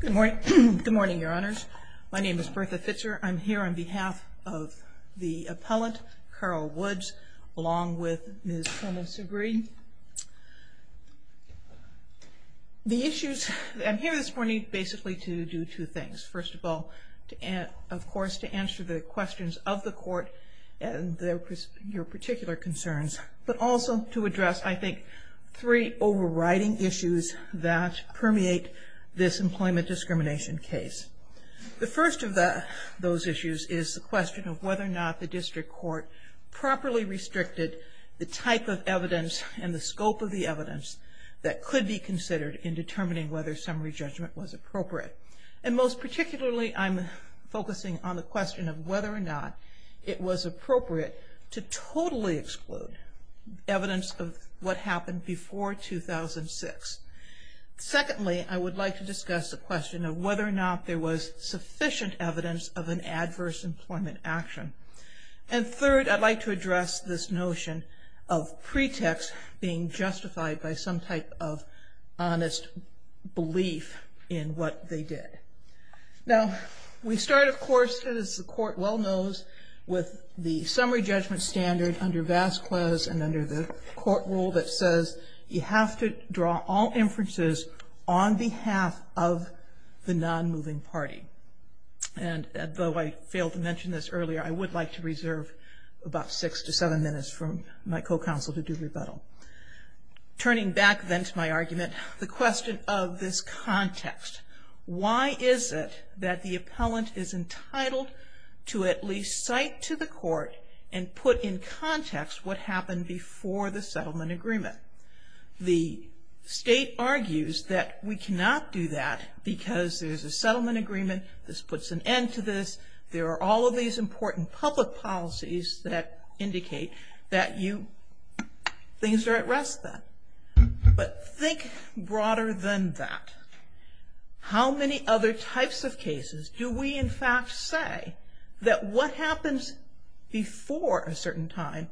Good morning. Good morning, Your Honors. My name is Bertha Fitzgerald. I'm here on behalf of the appellant, Carol Woods, along with Ms. Helena Segre. The issues I'm here this morning basically to do two things. First of all, of course, to answer the questions of the court and your particular concerns, but also to address, I think, three overriding issues that permeate this employment discrimination case. The first of those issues is the question of whether or not the district court properly restricted the type of evidence and the scope of the evidence that could be considered in determining whether summary judgment was appropriate. And most particularly, I'm focusing on the question of whether or not it was appropriate to totally exclude evidence of what happened before 2006. Secondly, I would like to discuss the question of whether or not there was sufficient evidence of an adverse employment action. And third, I'd like to address this notion of pretext being justified by some type of honest belief in what they did. Now, we start, of course, as the court well knows, with the summary judgment standard under Vasquez and under the court rule that says you have to draw all inferences on behalf of the non-moving party. And though I failed to mention this earlier, I would like to reserve about six to seven minutes for my co-counsel to do rebuttal. Turning back then to my argument, the question of this context. Why is it that the appellant is entitled to at least cite to the court and put in context what happened before the settlement agreement? The state argues that we cannot do that because there's a settlement agreement, this puts an end to this, there are all of these important public policies that indicate that things are at rest then. But think broader than that. How many other types of cases do we in fact say that what happens before a certain time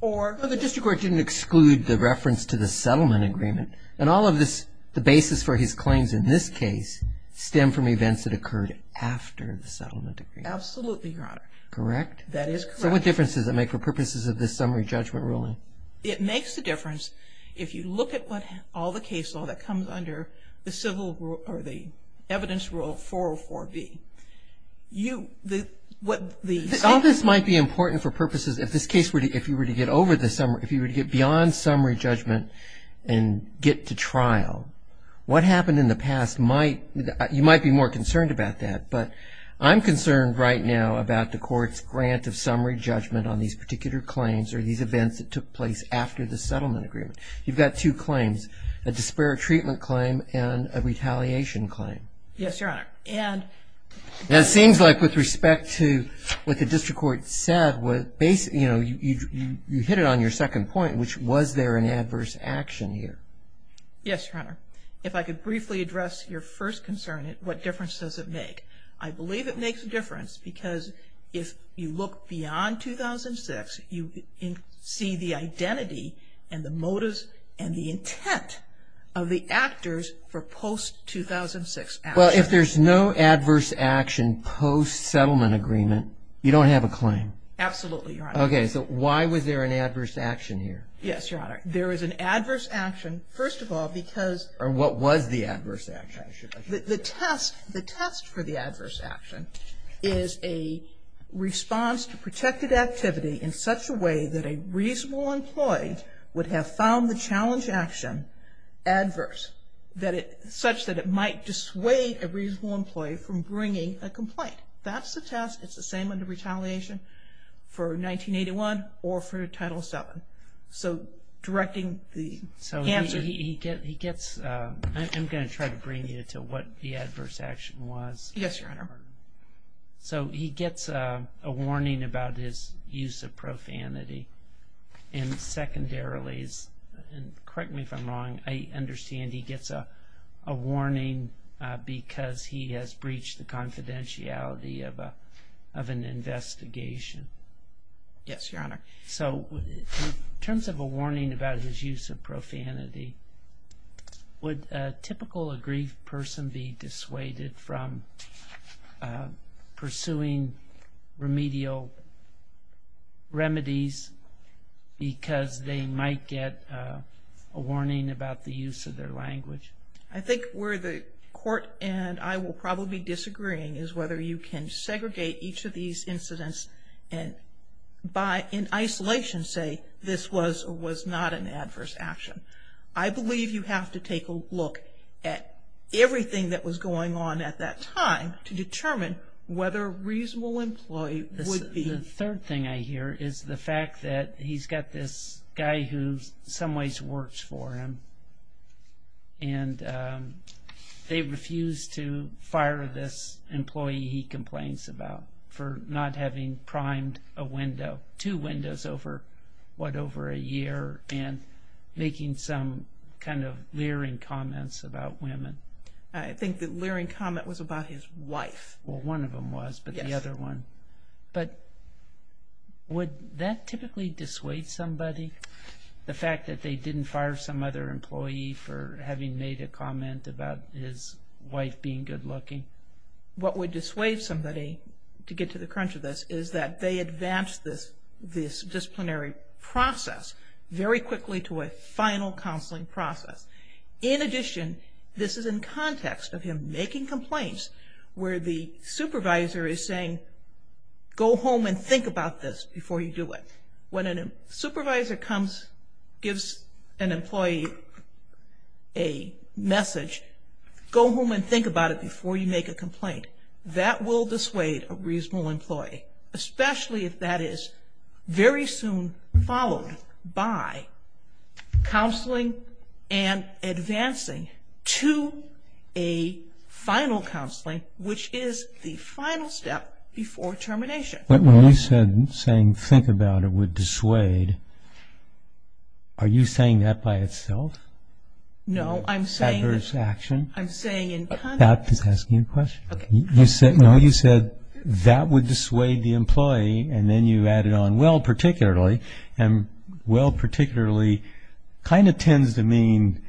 or... The district court didn't exclude the reference to the settlement agreement. And all of this, the basis for his claims in this case, stem from events that occurred after the settlement agreement. Absolutely, Your Honor. Correct? That is correct. So what difference does it make for purposes of this summary judgment ruling? It makes a difference if you look at all the case law that comes under the civil or the evidence rule 404B. You, what the... All this might be important for purposes, if this case were to, if you were to get over the summary, if you were to get beyond summary judgment and get to trial, what happened in the past might, you might be more concerned about that. But I'm concerned right now about the court's grant of summary judgment on these particular claims or these events that took place after the settlement agreement. You've got two claims, a disparate treatment claim and a retaliation claim. Yes, Your Honor. And... It seems like with respect to what the district court said, you hit it on your second point, which was there an adverse action here. Yes, Your Honor. If I could briefly address your first concern, what difference does it make? I believe it makes a difference because if you look beyond 2006, you see the identity and the motives and the intent of the actors for post-2006 action. Well, if there's no adverse action post-settlement agreement, you don't have a claim. Absolutely, Your Honor. Okay. So why was there an adverse action here? Yes, Your Honor. There is an adverse action, first of all, because... Or what was the adverse action? The test for the adverse action is a response to protected activity in such a way that a reasonable employee would have found the challenge action adverse, such that it might dissuade a reasonable employee from bringing a complaint. That's the test. It's the same under retaliation for 1981 or for Title VII. So directing the answer... I'm going to try to bring you to what the adverse action was. Yes, Your Honor. So he gets a warning about his use of profanity, and secondarily, and correct me if I'm wrong, I understand he gets a warning because he has breached the confidentiality of an investigation. Yes, Your Honor. So in terms of a warning about his use of profanity, would a typical aggrieved person be dissuaded from pursuing remedial remedies because they might get a warning about the use of their language? I think where the Court and I will probably be disagreeing is whether you can segregate each of these incidents and in isolation say this was or was not an adverse action. I believe you have to take a look at everything that was going on at that time to determine whether a reasonable employee would be... The third thing I hear is the fact that he's got this guy who in some ways works for him, and they refuse to fire this employee he complains about for not having primed a window, two windows over, what, over a year and making some kind of leering comments about women. I think the leering comment was about his wife. Well, one of them was, but the other one... Yes. But would that typically dissuade somebody? The fact that they didn't fire some other employee for having made a comment about his wife being good-looking. What would dissuade somebody to get to the crunch of this is that they advance this disciplinary process very quickly to a final counseling process. In addition, this is in context of him making complaints where the supervisor is saying, go home and think about this before you do it. When a supervisor comes, gives an employee a message, go home and think about it before you make a complaint. That will dissuade a reasonable employee, especially if that is very soon followed by counseling and advancing to a final counseling, which is the final step before termination. When you said saying think about it would dissuade, are you saying that by itself? No, I'm saying... Adverse action? I'm saying in context... That is asking a question. No, you said that would dissuade the employee and then you added on well particularly, and well particularly kind of tends to mean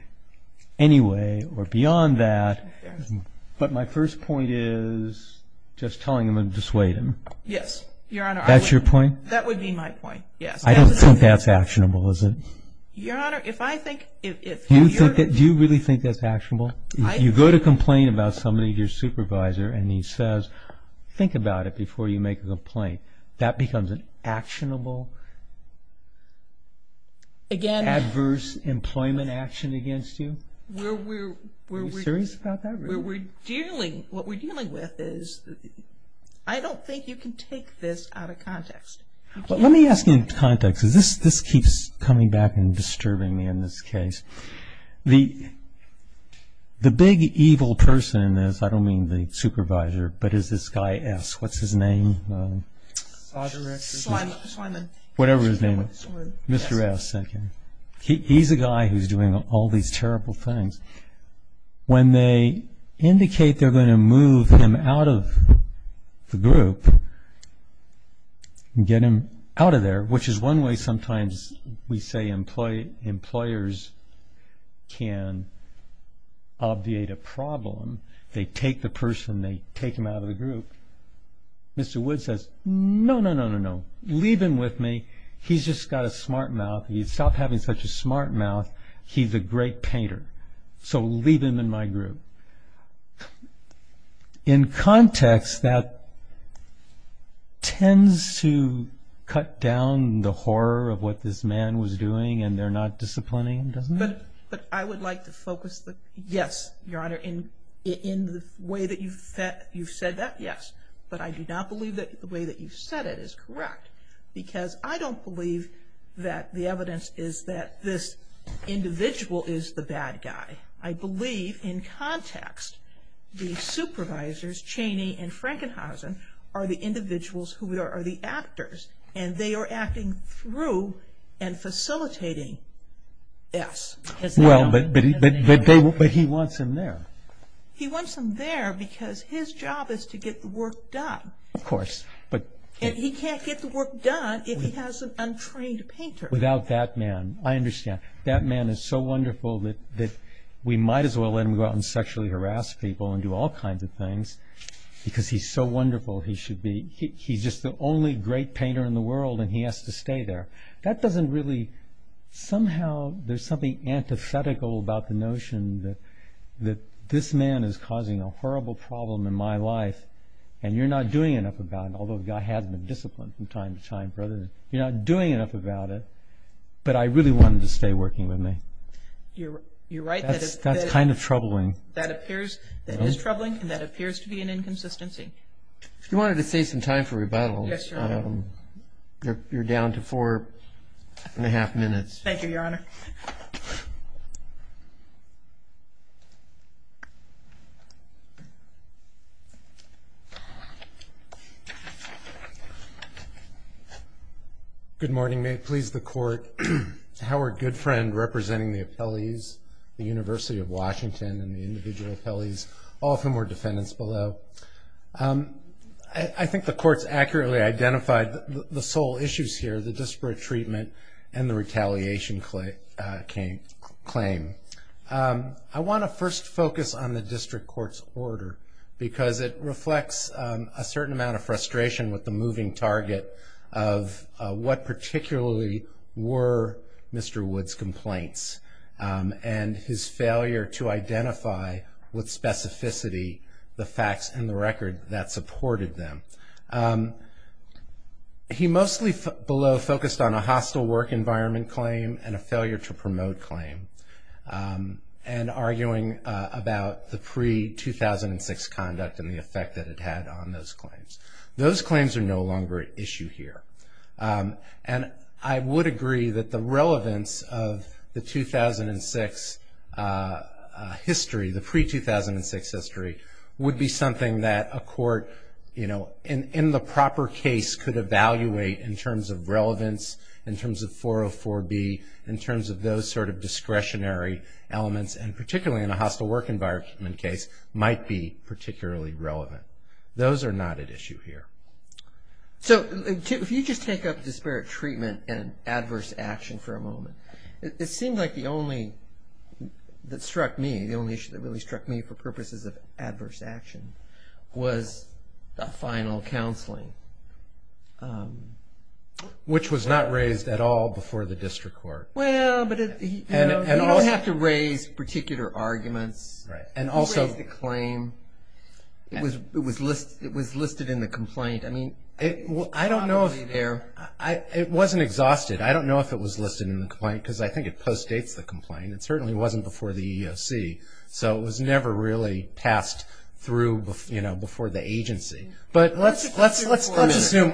anyway or beyond that. But my first point is just telling them it would dissuade them. Yes, Your Honor. That's your point? That would be my point, yes. I don't think that's actionable, is it? Your Honor, if I think... Do you really think that's actionable? If you go to complain about somebody, your supervisor, and he says think about it before you make a complaint, that becomes an actionable adverse employment action against you? Are you serious about that? What we're dealing with is I don't think you can take this out of context. Let me ask you in context because this keeps coming back and disturbing me in this case. The big evil person in this, I don't mean the supervisor, but is this guy S. What's his name? Slymon. Whatever his name is. Mr. S. He's a guy who's doing all these terrible things. When they indicate they're going to move him out of the group, get him out of there, which is one way sometimes we say employers can obviate a problem. They take the person, they take him out of the group. Mr. Wood says, no, no, no, no, no. Leave him with me. He's just got a smart mouth. He's stopped having such a smart mouth. He's a great painter. So leave him in my group. In context, that tends to cut down the horror of what this man was doing and they're not disciplining him, doesn't it? But I would like to focus, yes, Your Honor, in the way that you've said that, yes. But I do not believe that the way that you've said it is correct because I don't believe that the evidence is that this individual is the bad guy. I believe in context the supervisors, Chaney and Frankenhausen, are the individuals who are the actors and they are acting through and facilitating S. But he wants him there. He wants him there because his job is to get the work done. Of course. And he can't get the work done if he has an untrained painter. Without that man. I understand. That man is so wonderful that we might as well let him go out and sexually harass people and do all kinds of things because he's so wonderful. He's just the only great painter in the world and he has to stay there. Somehow there's something antithetical about the notion that this man is causing a horrible problem in my life and you're not doing enough about it, although the guy has been disciplined from time to time. You're not doing enough about it, but I really want him to stay working with me. You're right. That's kind of troubling. That is troubling and that appears to be an inconsistency. If you wanted to save some time for rebuttal, you're down to four and a half minutes. Thank you, Your Honor. Good morning. May it please the Court. Howard Goodfriend representing the appellees, the University of Washington and the individual appellees, all of whom are defendants below. I think the courts accurately identified the sole issues here, the disparate treatment and the retaliation claim. I want to first focus on the district court's order because it reflects a certain amount of frustration with the moving target of what particularly were Mr. Wood's complaints and his failure to identify with specificity the facts in the record that supported them. He mostly below focused on a hostile work environment claim and a failure to promote claim and arguing about the pre-2006 conduct and the effect that it had on those claims. Those claims are no longer at issue here. I would agree that the relevance of the 2006 history, the pre-2006 history, would be something that a court in the proper case could evaluate in terms of relevance, in terms of 404B, in terms of those sort of discretionary elements and particularly in a hostile work environment case might be particularly relevant. Those are not at issue here. So if you just take up disparate treatment and adverse action for a moment, it seems like the only that struck me, the only issue that really struck me for purposes of adverse action was the final counseling. Which was not raised at all before the district court. You don't have to raise particular arguments. It was listed in the complaint. It wasn't exhausted. I don't know if it was listed in the complaint because I think it postdates the complaint. It certainly wasn't before the EEOC. So it was never really passed through before the agency. But let's assume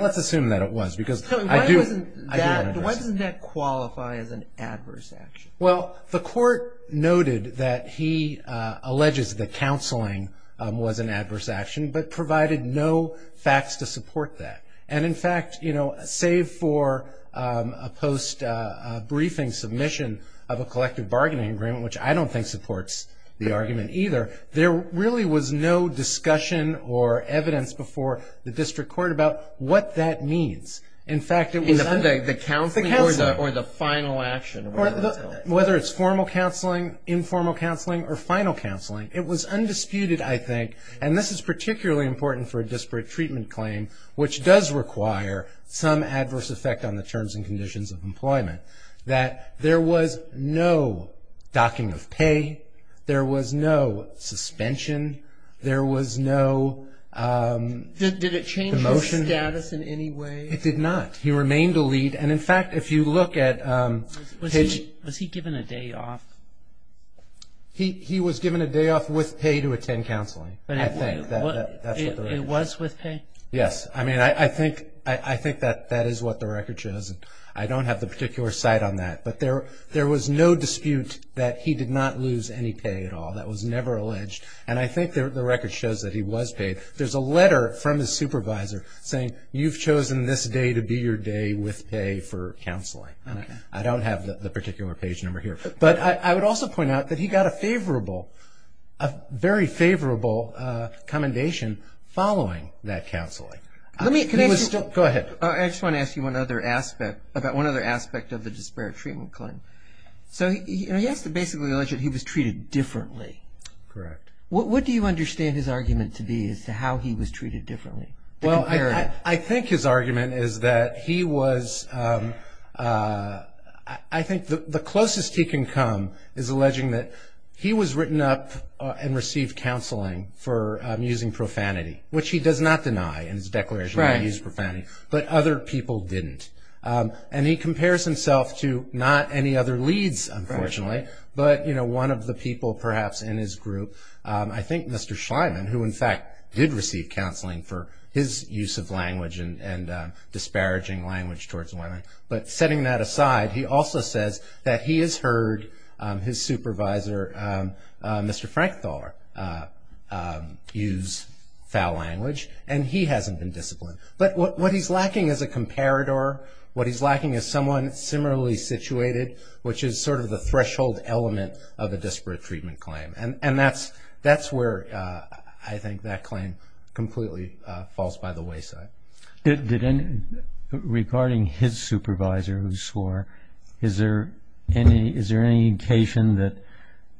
that it was. Why doesn't that qualify as an adverse action? Well, the court noted that he alleges that counseling was an adverse action but provided no facts to support that. And in fact, you know, save for a post-briefing submission of a collective bargaining agreement, which I don't think supports the argument either, there really was no discussion or evidence before the district court about what that means. The counseling or the final action? Whether it's formal counseling, informal counseling, or final counseling. It was undisputed, I think, and this is particularly important for a disparate treatment claim, which does require some adverse effect on the terms and conditions of employment, that there was no docking of pay. There was no suspension. There was no motion. Did it change his status in any way? It did not. He remained a lead. And in fact, if you look at his ---- Was he given a day off? He was given a day off with pay to attend counseling, I think. It was with pay? Yes. I mean, I think that that is what the record shows. I don't have the particular site on that. But there was no dispute that he did not lose any pay at all. That was never alleged. And I think the record shows that he was paid. There's a letter from his supervisor saying, you've chosen this day to be your day with pay for counseling. I don't have the particular page number here. But I would also point out that he got a favorable, a very favorable commendation following that counseling. Go ahead. I just want to ask you about one other aspect of the disparate treatment claim. So he has to basically allege that he was treated differently. Correct. What do you understand his argument to be as to how he was treated differently? Well, I think his argument is that he was ---- I think the closest he can come is alleging that he was written up and received counseling for using profanity, which he does not deny in his declaration that he used profanity. Right. But other people didn't. And he compares himself to not any other leads, unfortunately, but one of the people perhaps in his group, I think Mr. Schleiman, who in fact did receive counseling for his use of language and disparaging language towards women. But setting that aside, he also says that he has heard his supervisor, Mr. Frankthaler, use foul language. And he hasn't been disciplined. But what he's lacking is a comparator. What he's lacking is someone similarly situated, which is sort of the threshold element of a disparate treatment claim. And that's where I think that claim completely falls by the wayside. Regarding his supervisor who swore, is there any indication that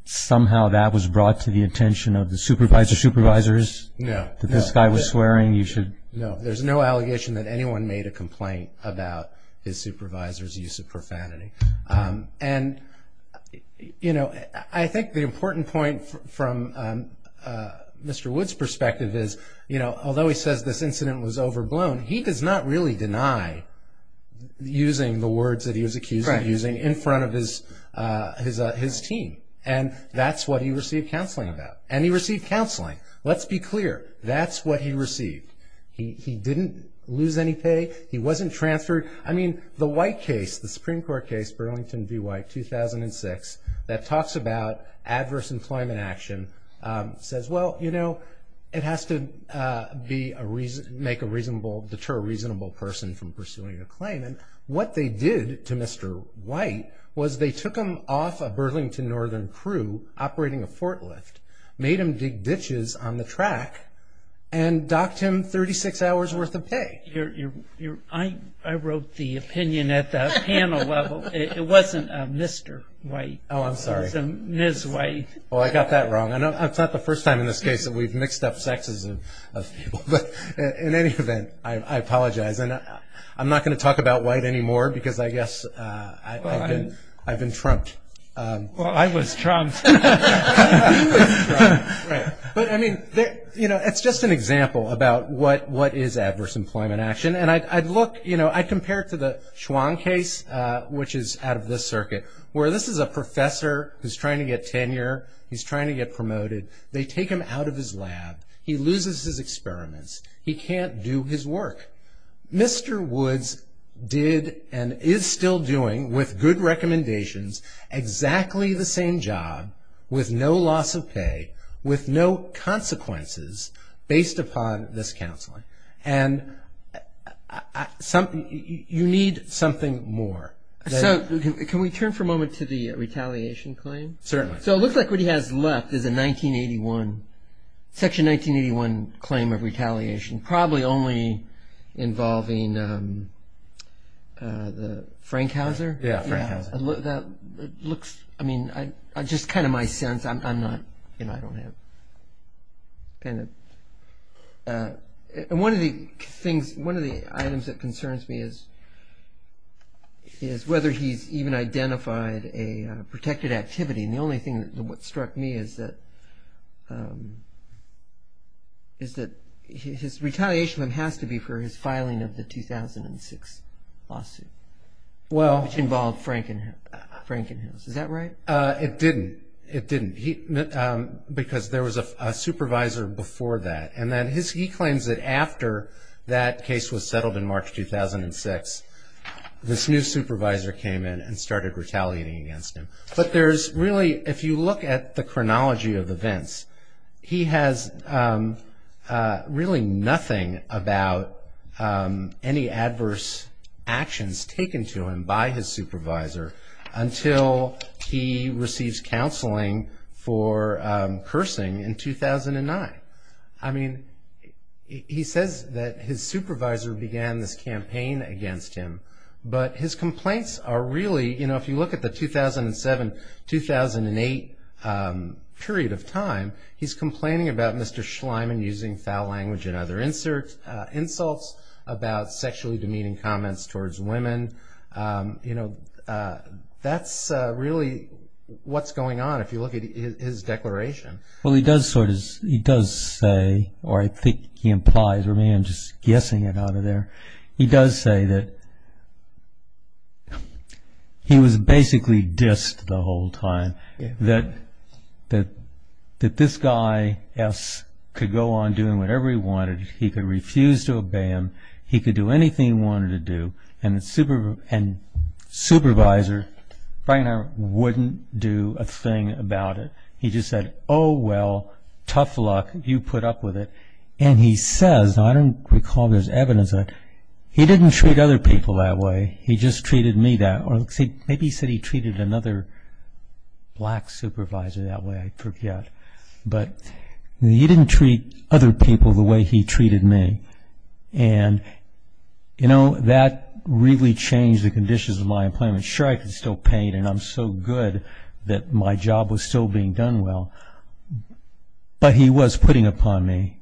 somehow that was brought to the attention of the supervisor? The supervisors? No. That this guy was swearing? No, there's no allegation that anyone made a complaint about his supervisor's use of profanity. And, you know, I think the important point from Mr. Wood's perspective is, you know, although he says this incident was overblown, he does not really deny using the words that he was accused of using in front of his team. And that's what he received counseling about. And he received counseling. Let's be clear, that's what he received. He didn't lose any pay. He wasn't transferred. I mean, the White case, the Supreme Court case, Burlington v. White, 2006, that talks about adverse employment action, says, well, you know, it has to make a reasonable, deter a reasonable person from pursuing a claim. And what they did to Mr. White was they took him off a Burlington Northern crew operating a forklift, made him dig ditches on the track, and docked him 36 hours worth of pay. I wrote the opinion at the panel level. It wasn't Mr. White. Oh, I'm sorry. It was Ms. White. Oh, I got that wrong. It's not the first time in this case that we've mixed up sexes of people. But in any event, I apologize. And I'm not going to talk about White anymore because I guess I've been trumped. Well, I was trumped. He was trumped. Right. But, I mean, you know, it's just an example about what is adverse employment action. And I'd look, you know, I'd compare it to the Schwann case, which is out of this circuit, where this is a professor who's trying to get tenure. He's trying to get promoted. They take him out of his lab. He loses his experiments. He can't do his work. Mr. Woods did and is still doing, with good recommendations, exactly the same job, with no loss of pay, with no consequences, based upon this counseling. And you need something more. So can we turn for a moment to the retaliation claim? Certainly. So it looks like what he has left is a 1981, Section 1981 claim of retaliation, probably only involving the Frankhauser. Yeah, Frankhauser. That looks, I mean, just kind of my sense. I'm not, you know, I don't have, kind of. And one of the things, one of the items that concerns me is whether he's even identified a protected activity. And the only thing that struck me is that his retaliation has to be for his filing of the 2006 lawsuit. Well. Which involved Frankenhaus. Is that right? It didn't. It didn't. Because there was a supervisor before that. And then he claims that after that case was settled in March 2006, this new supervisor came in and started retaliating against him. But there's really, if you look at the chronology of events, he has really nothing about any adverse actions taken to him by his supervisor until he receives counseling for cursing in 2009. I mean, he says that his supervisor began this campaign against him. But his complaints are really, you know, if you look at the 2007-2008 period of time, he's complaining about Mr. Schleiman using foul language and other insults, about sexually demeaning comments towards women. You know, that's really what's going on if you look at his declaration. Well, he does sort of, he does say, or I think he implies, or maybe I'm just guessing it out of there. He does say that he was basically dissed the whole time, that this guy could go on doing whatever he wanted. He could refuse to obey him. He could do anything he wanted to do. And the supervisor wouldn't do a thing about it. He just said, oh, well, tough luck. You put up with it. And he says, I don't recall there's evidence of it, he didn't treat other people that way. He just treated me that way. Maybe he said he treated another black supervisor that way. I forget. But he didn't treat other people the way he treated me. And, you know, that really changed the conditions of my employment. Sure, I could still paint, and I'm so good that my job was still being done well. But he was putting upon me.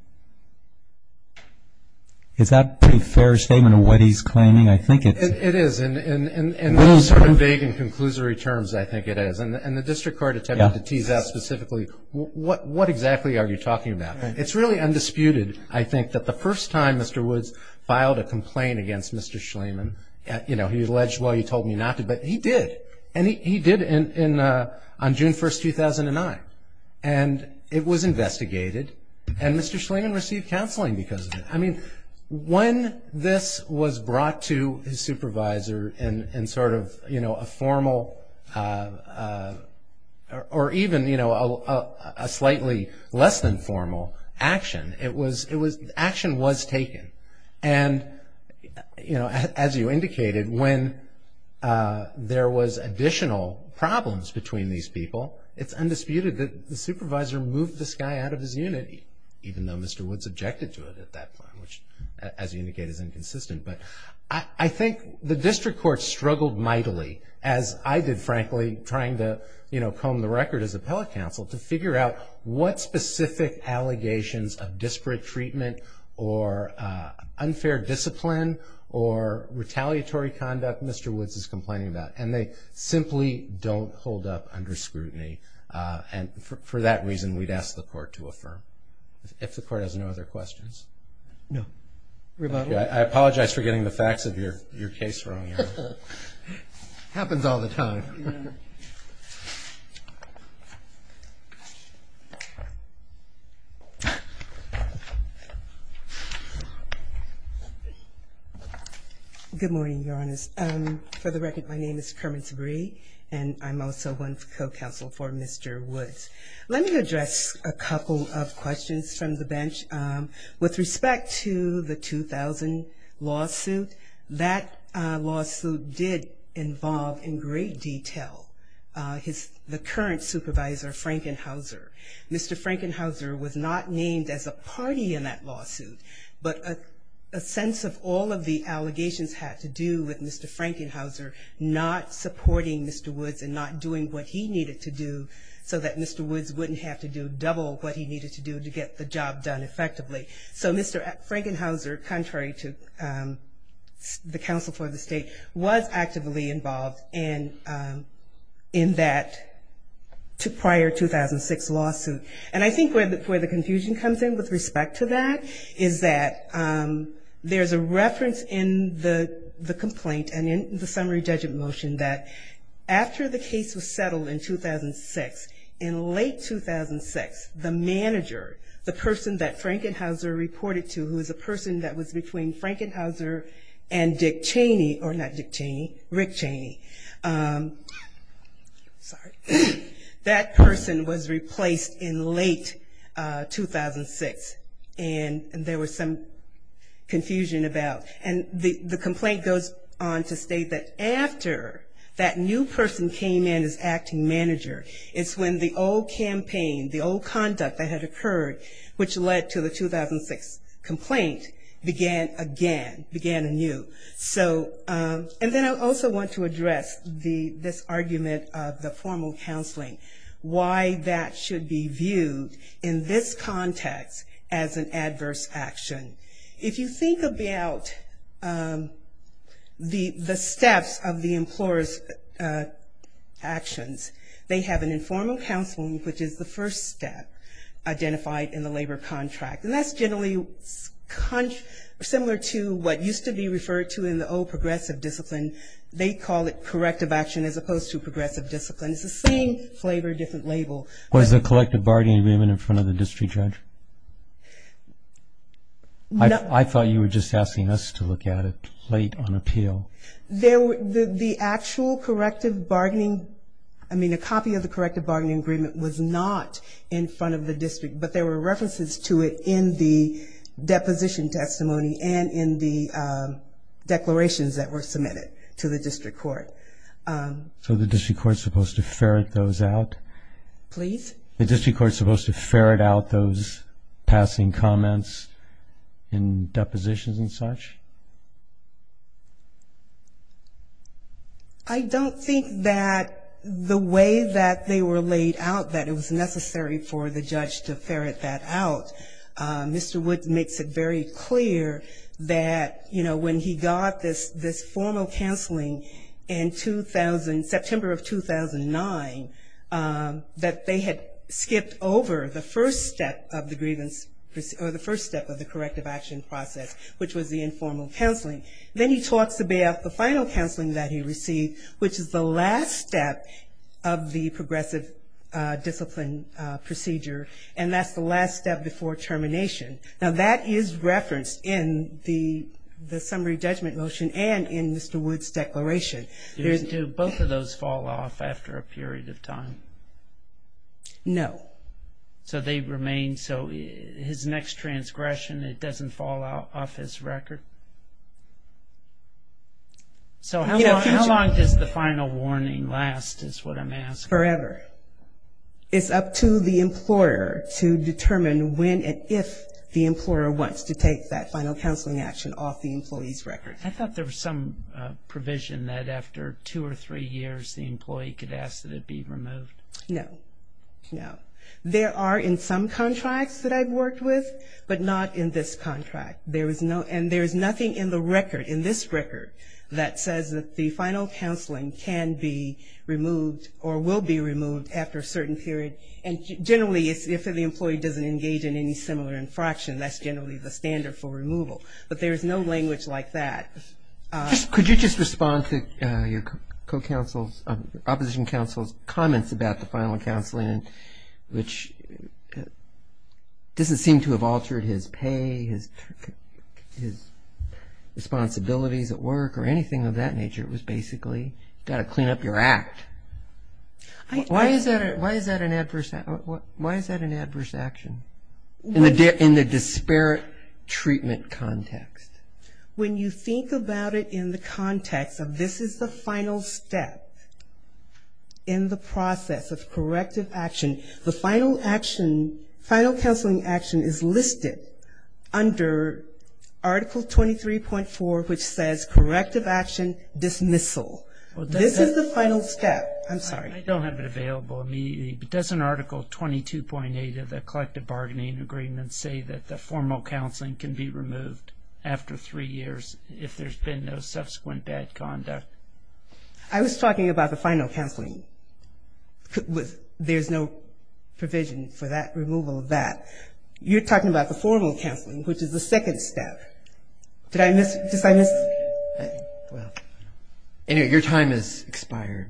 Is that a pretty fair statement of what he's claiming? I think it is. It is. In sort of vague and conclusory terms, I think it is. And the district court attempted to tease out specifically, what exactly are you talking about? It's really undisputed, I think, that the first time Mr. Woods filed a complaint against Mr. Schliemann, you know, he alleged, well, you told me not to, but he did. And he did on June 1, 2009. And it was investigated, and Mr. Schliemann received counseling because of it. I mean, when this was brought to his supervisor in sort of, you know, a formal or even, you know, a slightly less than formal action, action was taken. And, you know, as you indicated, when there was additional problems between these people, it's undisputed that the supervisor moved this guy out of his unit, even though Mr. Woods objected to it at that point, which, as you indicate, is inconsistent. But I think the district court struggled mightily, as I did, frankly, trying to, you know, comb the record as appellate counsel, to figure out what specific allegations of disparate treatment or unfair discipline or retaliatory conduct Mr. Woods is complaining about. And they simply don't hold up under scrutiny. And for that reason, we'd ask the court to affirm. If the court has no other questions. No. I apologize for getting the facts of your case wrong. Happens all the time. Good morning, Your Honors. For the record, my name is Kermit Sabree, and I'm also one co-counsel for Mr. Woods. Let me address a couple of questions from the bench. With respect to the 2000 lawsuit, that lawsuit did involve in great detail the current supervisor, Frankenhauser. Mr. Frankenhauser was not named as a party in that lawsuit, but a sense of all of the allegations had to do with Mr. Frankenhauser not supporting Mr. Woods and not doing what he needed to do so that Mr. Woods wouldn't have to do double what he needed to do to get the job done effectively. So Mr. Frankenhauser, contrary to the counsel for the state, was actively involved in that prior 2006 lawsuit. And I think where the confusion comes in with respect to that is that there's a reference in the complaint and in the summary judgment motion that after the case was settled in 2006, in late 2006, the manager, the person that Frankenhauser reported to, who was a person that was between Frankenhauser and Dick Cheney, or not Dick Cheney, Rick Cheney, that person was replaced in late 2006. And there was some confusion about, and the complaint goes on to state that after that new person came in as acting manager, it's when the old campaign, the old conduct that had occurred, which led to the 2006 complaint, began again, began anew. So, and then I also want to address this argument of the formal counseling, why that should be viewed in this context as an adverse action. If you think about the steps of the employer's actions, they have an informal counseling, which is the first step identified in the labor contract. And that's generally similar to what used to be referred to in the old progressive discipline. They call it corrective action as opposed to progressive discipline. It's the same flavor, different label. Was the corrective bargaining agreement in front of the district judge? I thought you were just asking us to look at it late on appeal. The actual corrective bargaining, I mean, a copy of the corrective bargaining agreement was not in front of the district, but there were references to it in the deposition testimony and in the declarations that were submitted to the district court. So the district court is supposed to ferret those out? Please. The district court is supposed to ferret out those passing comments in depositions and such? I don't think that the way that they were laid out that it was necessary for the judge to ferret that out. Mr. Woods makes it very clear that, you know, when he got this formal counseling in September of 2009, that they had skipped over the first step of the corrective action process, which was the informal counseling. Then he talks about the final counseling that he received, which is the last step of the progressive discipline procedure, and that's the last step before termination. Now, that is referenced in the summary judgment motion and in Mr. Woods' declaration. Do both of those fall off after a period of time? No. So they remain, so his next transgression, it doesn't fall off his record? So how long does the final warning last is what I'm asking? Forever. It's up to the employer to determine when and if the employer wants to take that final counseling action off the employee's record. I thought there was some provision that after two or three years the employee could ask that it be removed. No. No. There are in some contracts that I've worked with, but not in this contract. And there is nothing in the record, in this record, that says that the final counseling can be removed or will be removed after a certain period. And generally if the employee doesn't engage in any similar infraction, that's generally the standard for removal. But there is no language like that. Could you just respond to your co-counsel's, opposition counsel's comments about the final counseling, which doesn't seem to have altered his pay, his responsibilities at work, or anything of that nature. It was basically got to clean up your act. Why is that an adverse action? In the disparate treatment context. When you think about it in the context of this is the final step in the process of corrective action, the final action, final counseling action is listed under Article 23.4, which says corrective action dismissal. This is the final step. I'm sorry. I don't have it available immediately, but doesn't Article 22.8 of the collective bargaining agreement say that the formal counseling can be removed after three years if there's been no subsequent bad conduct? I was talking about the final counseling. There's no provision for that removal of that. You're talking about the formal counseling, which is the second step. Did I miss? Your time has expired.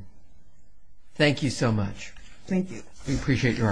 Thank you so much. Thank you. We appreciate your arguments.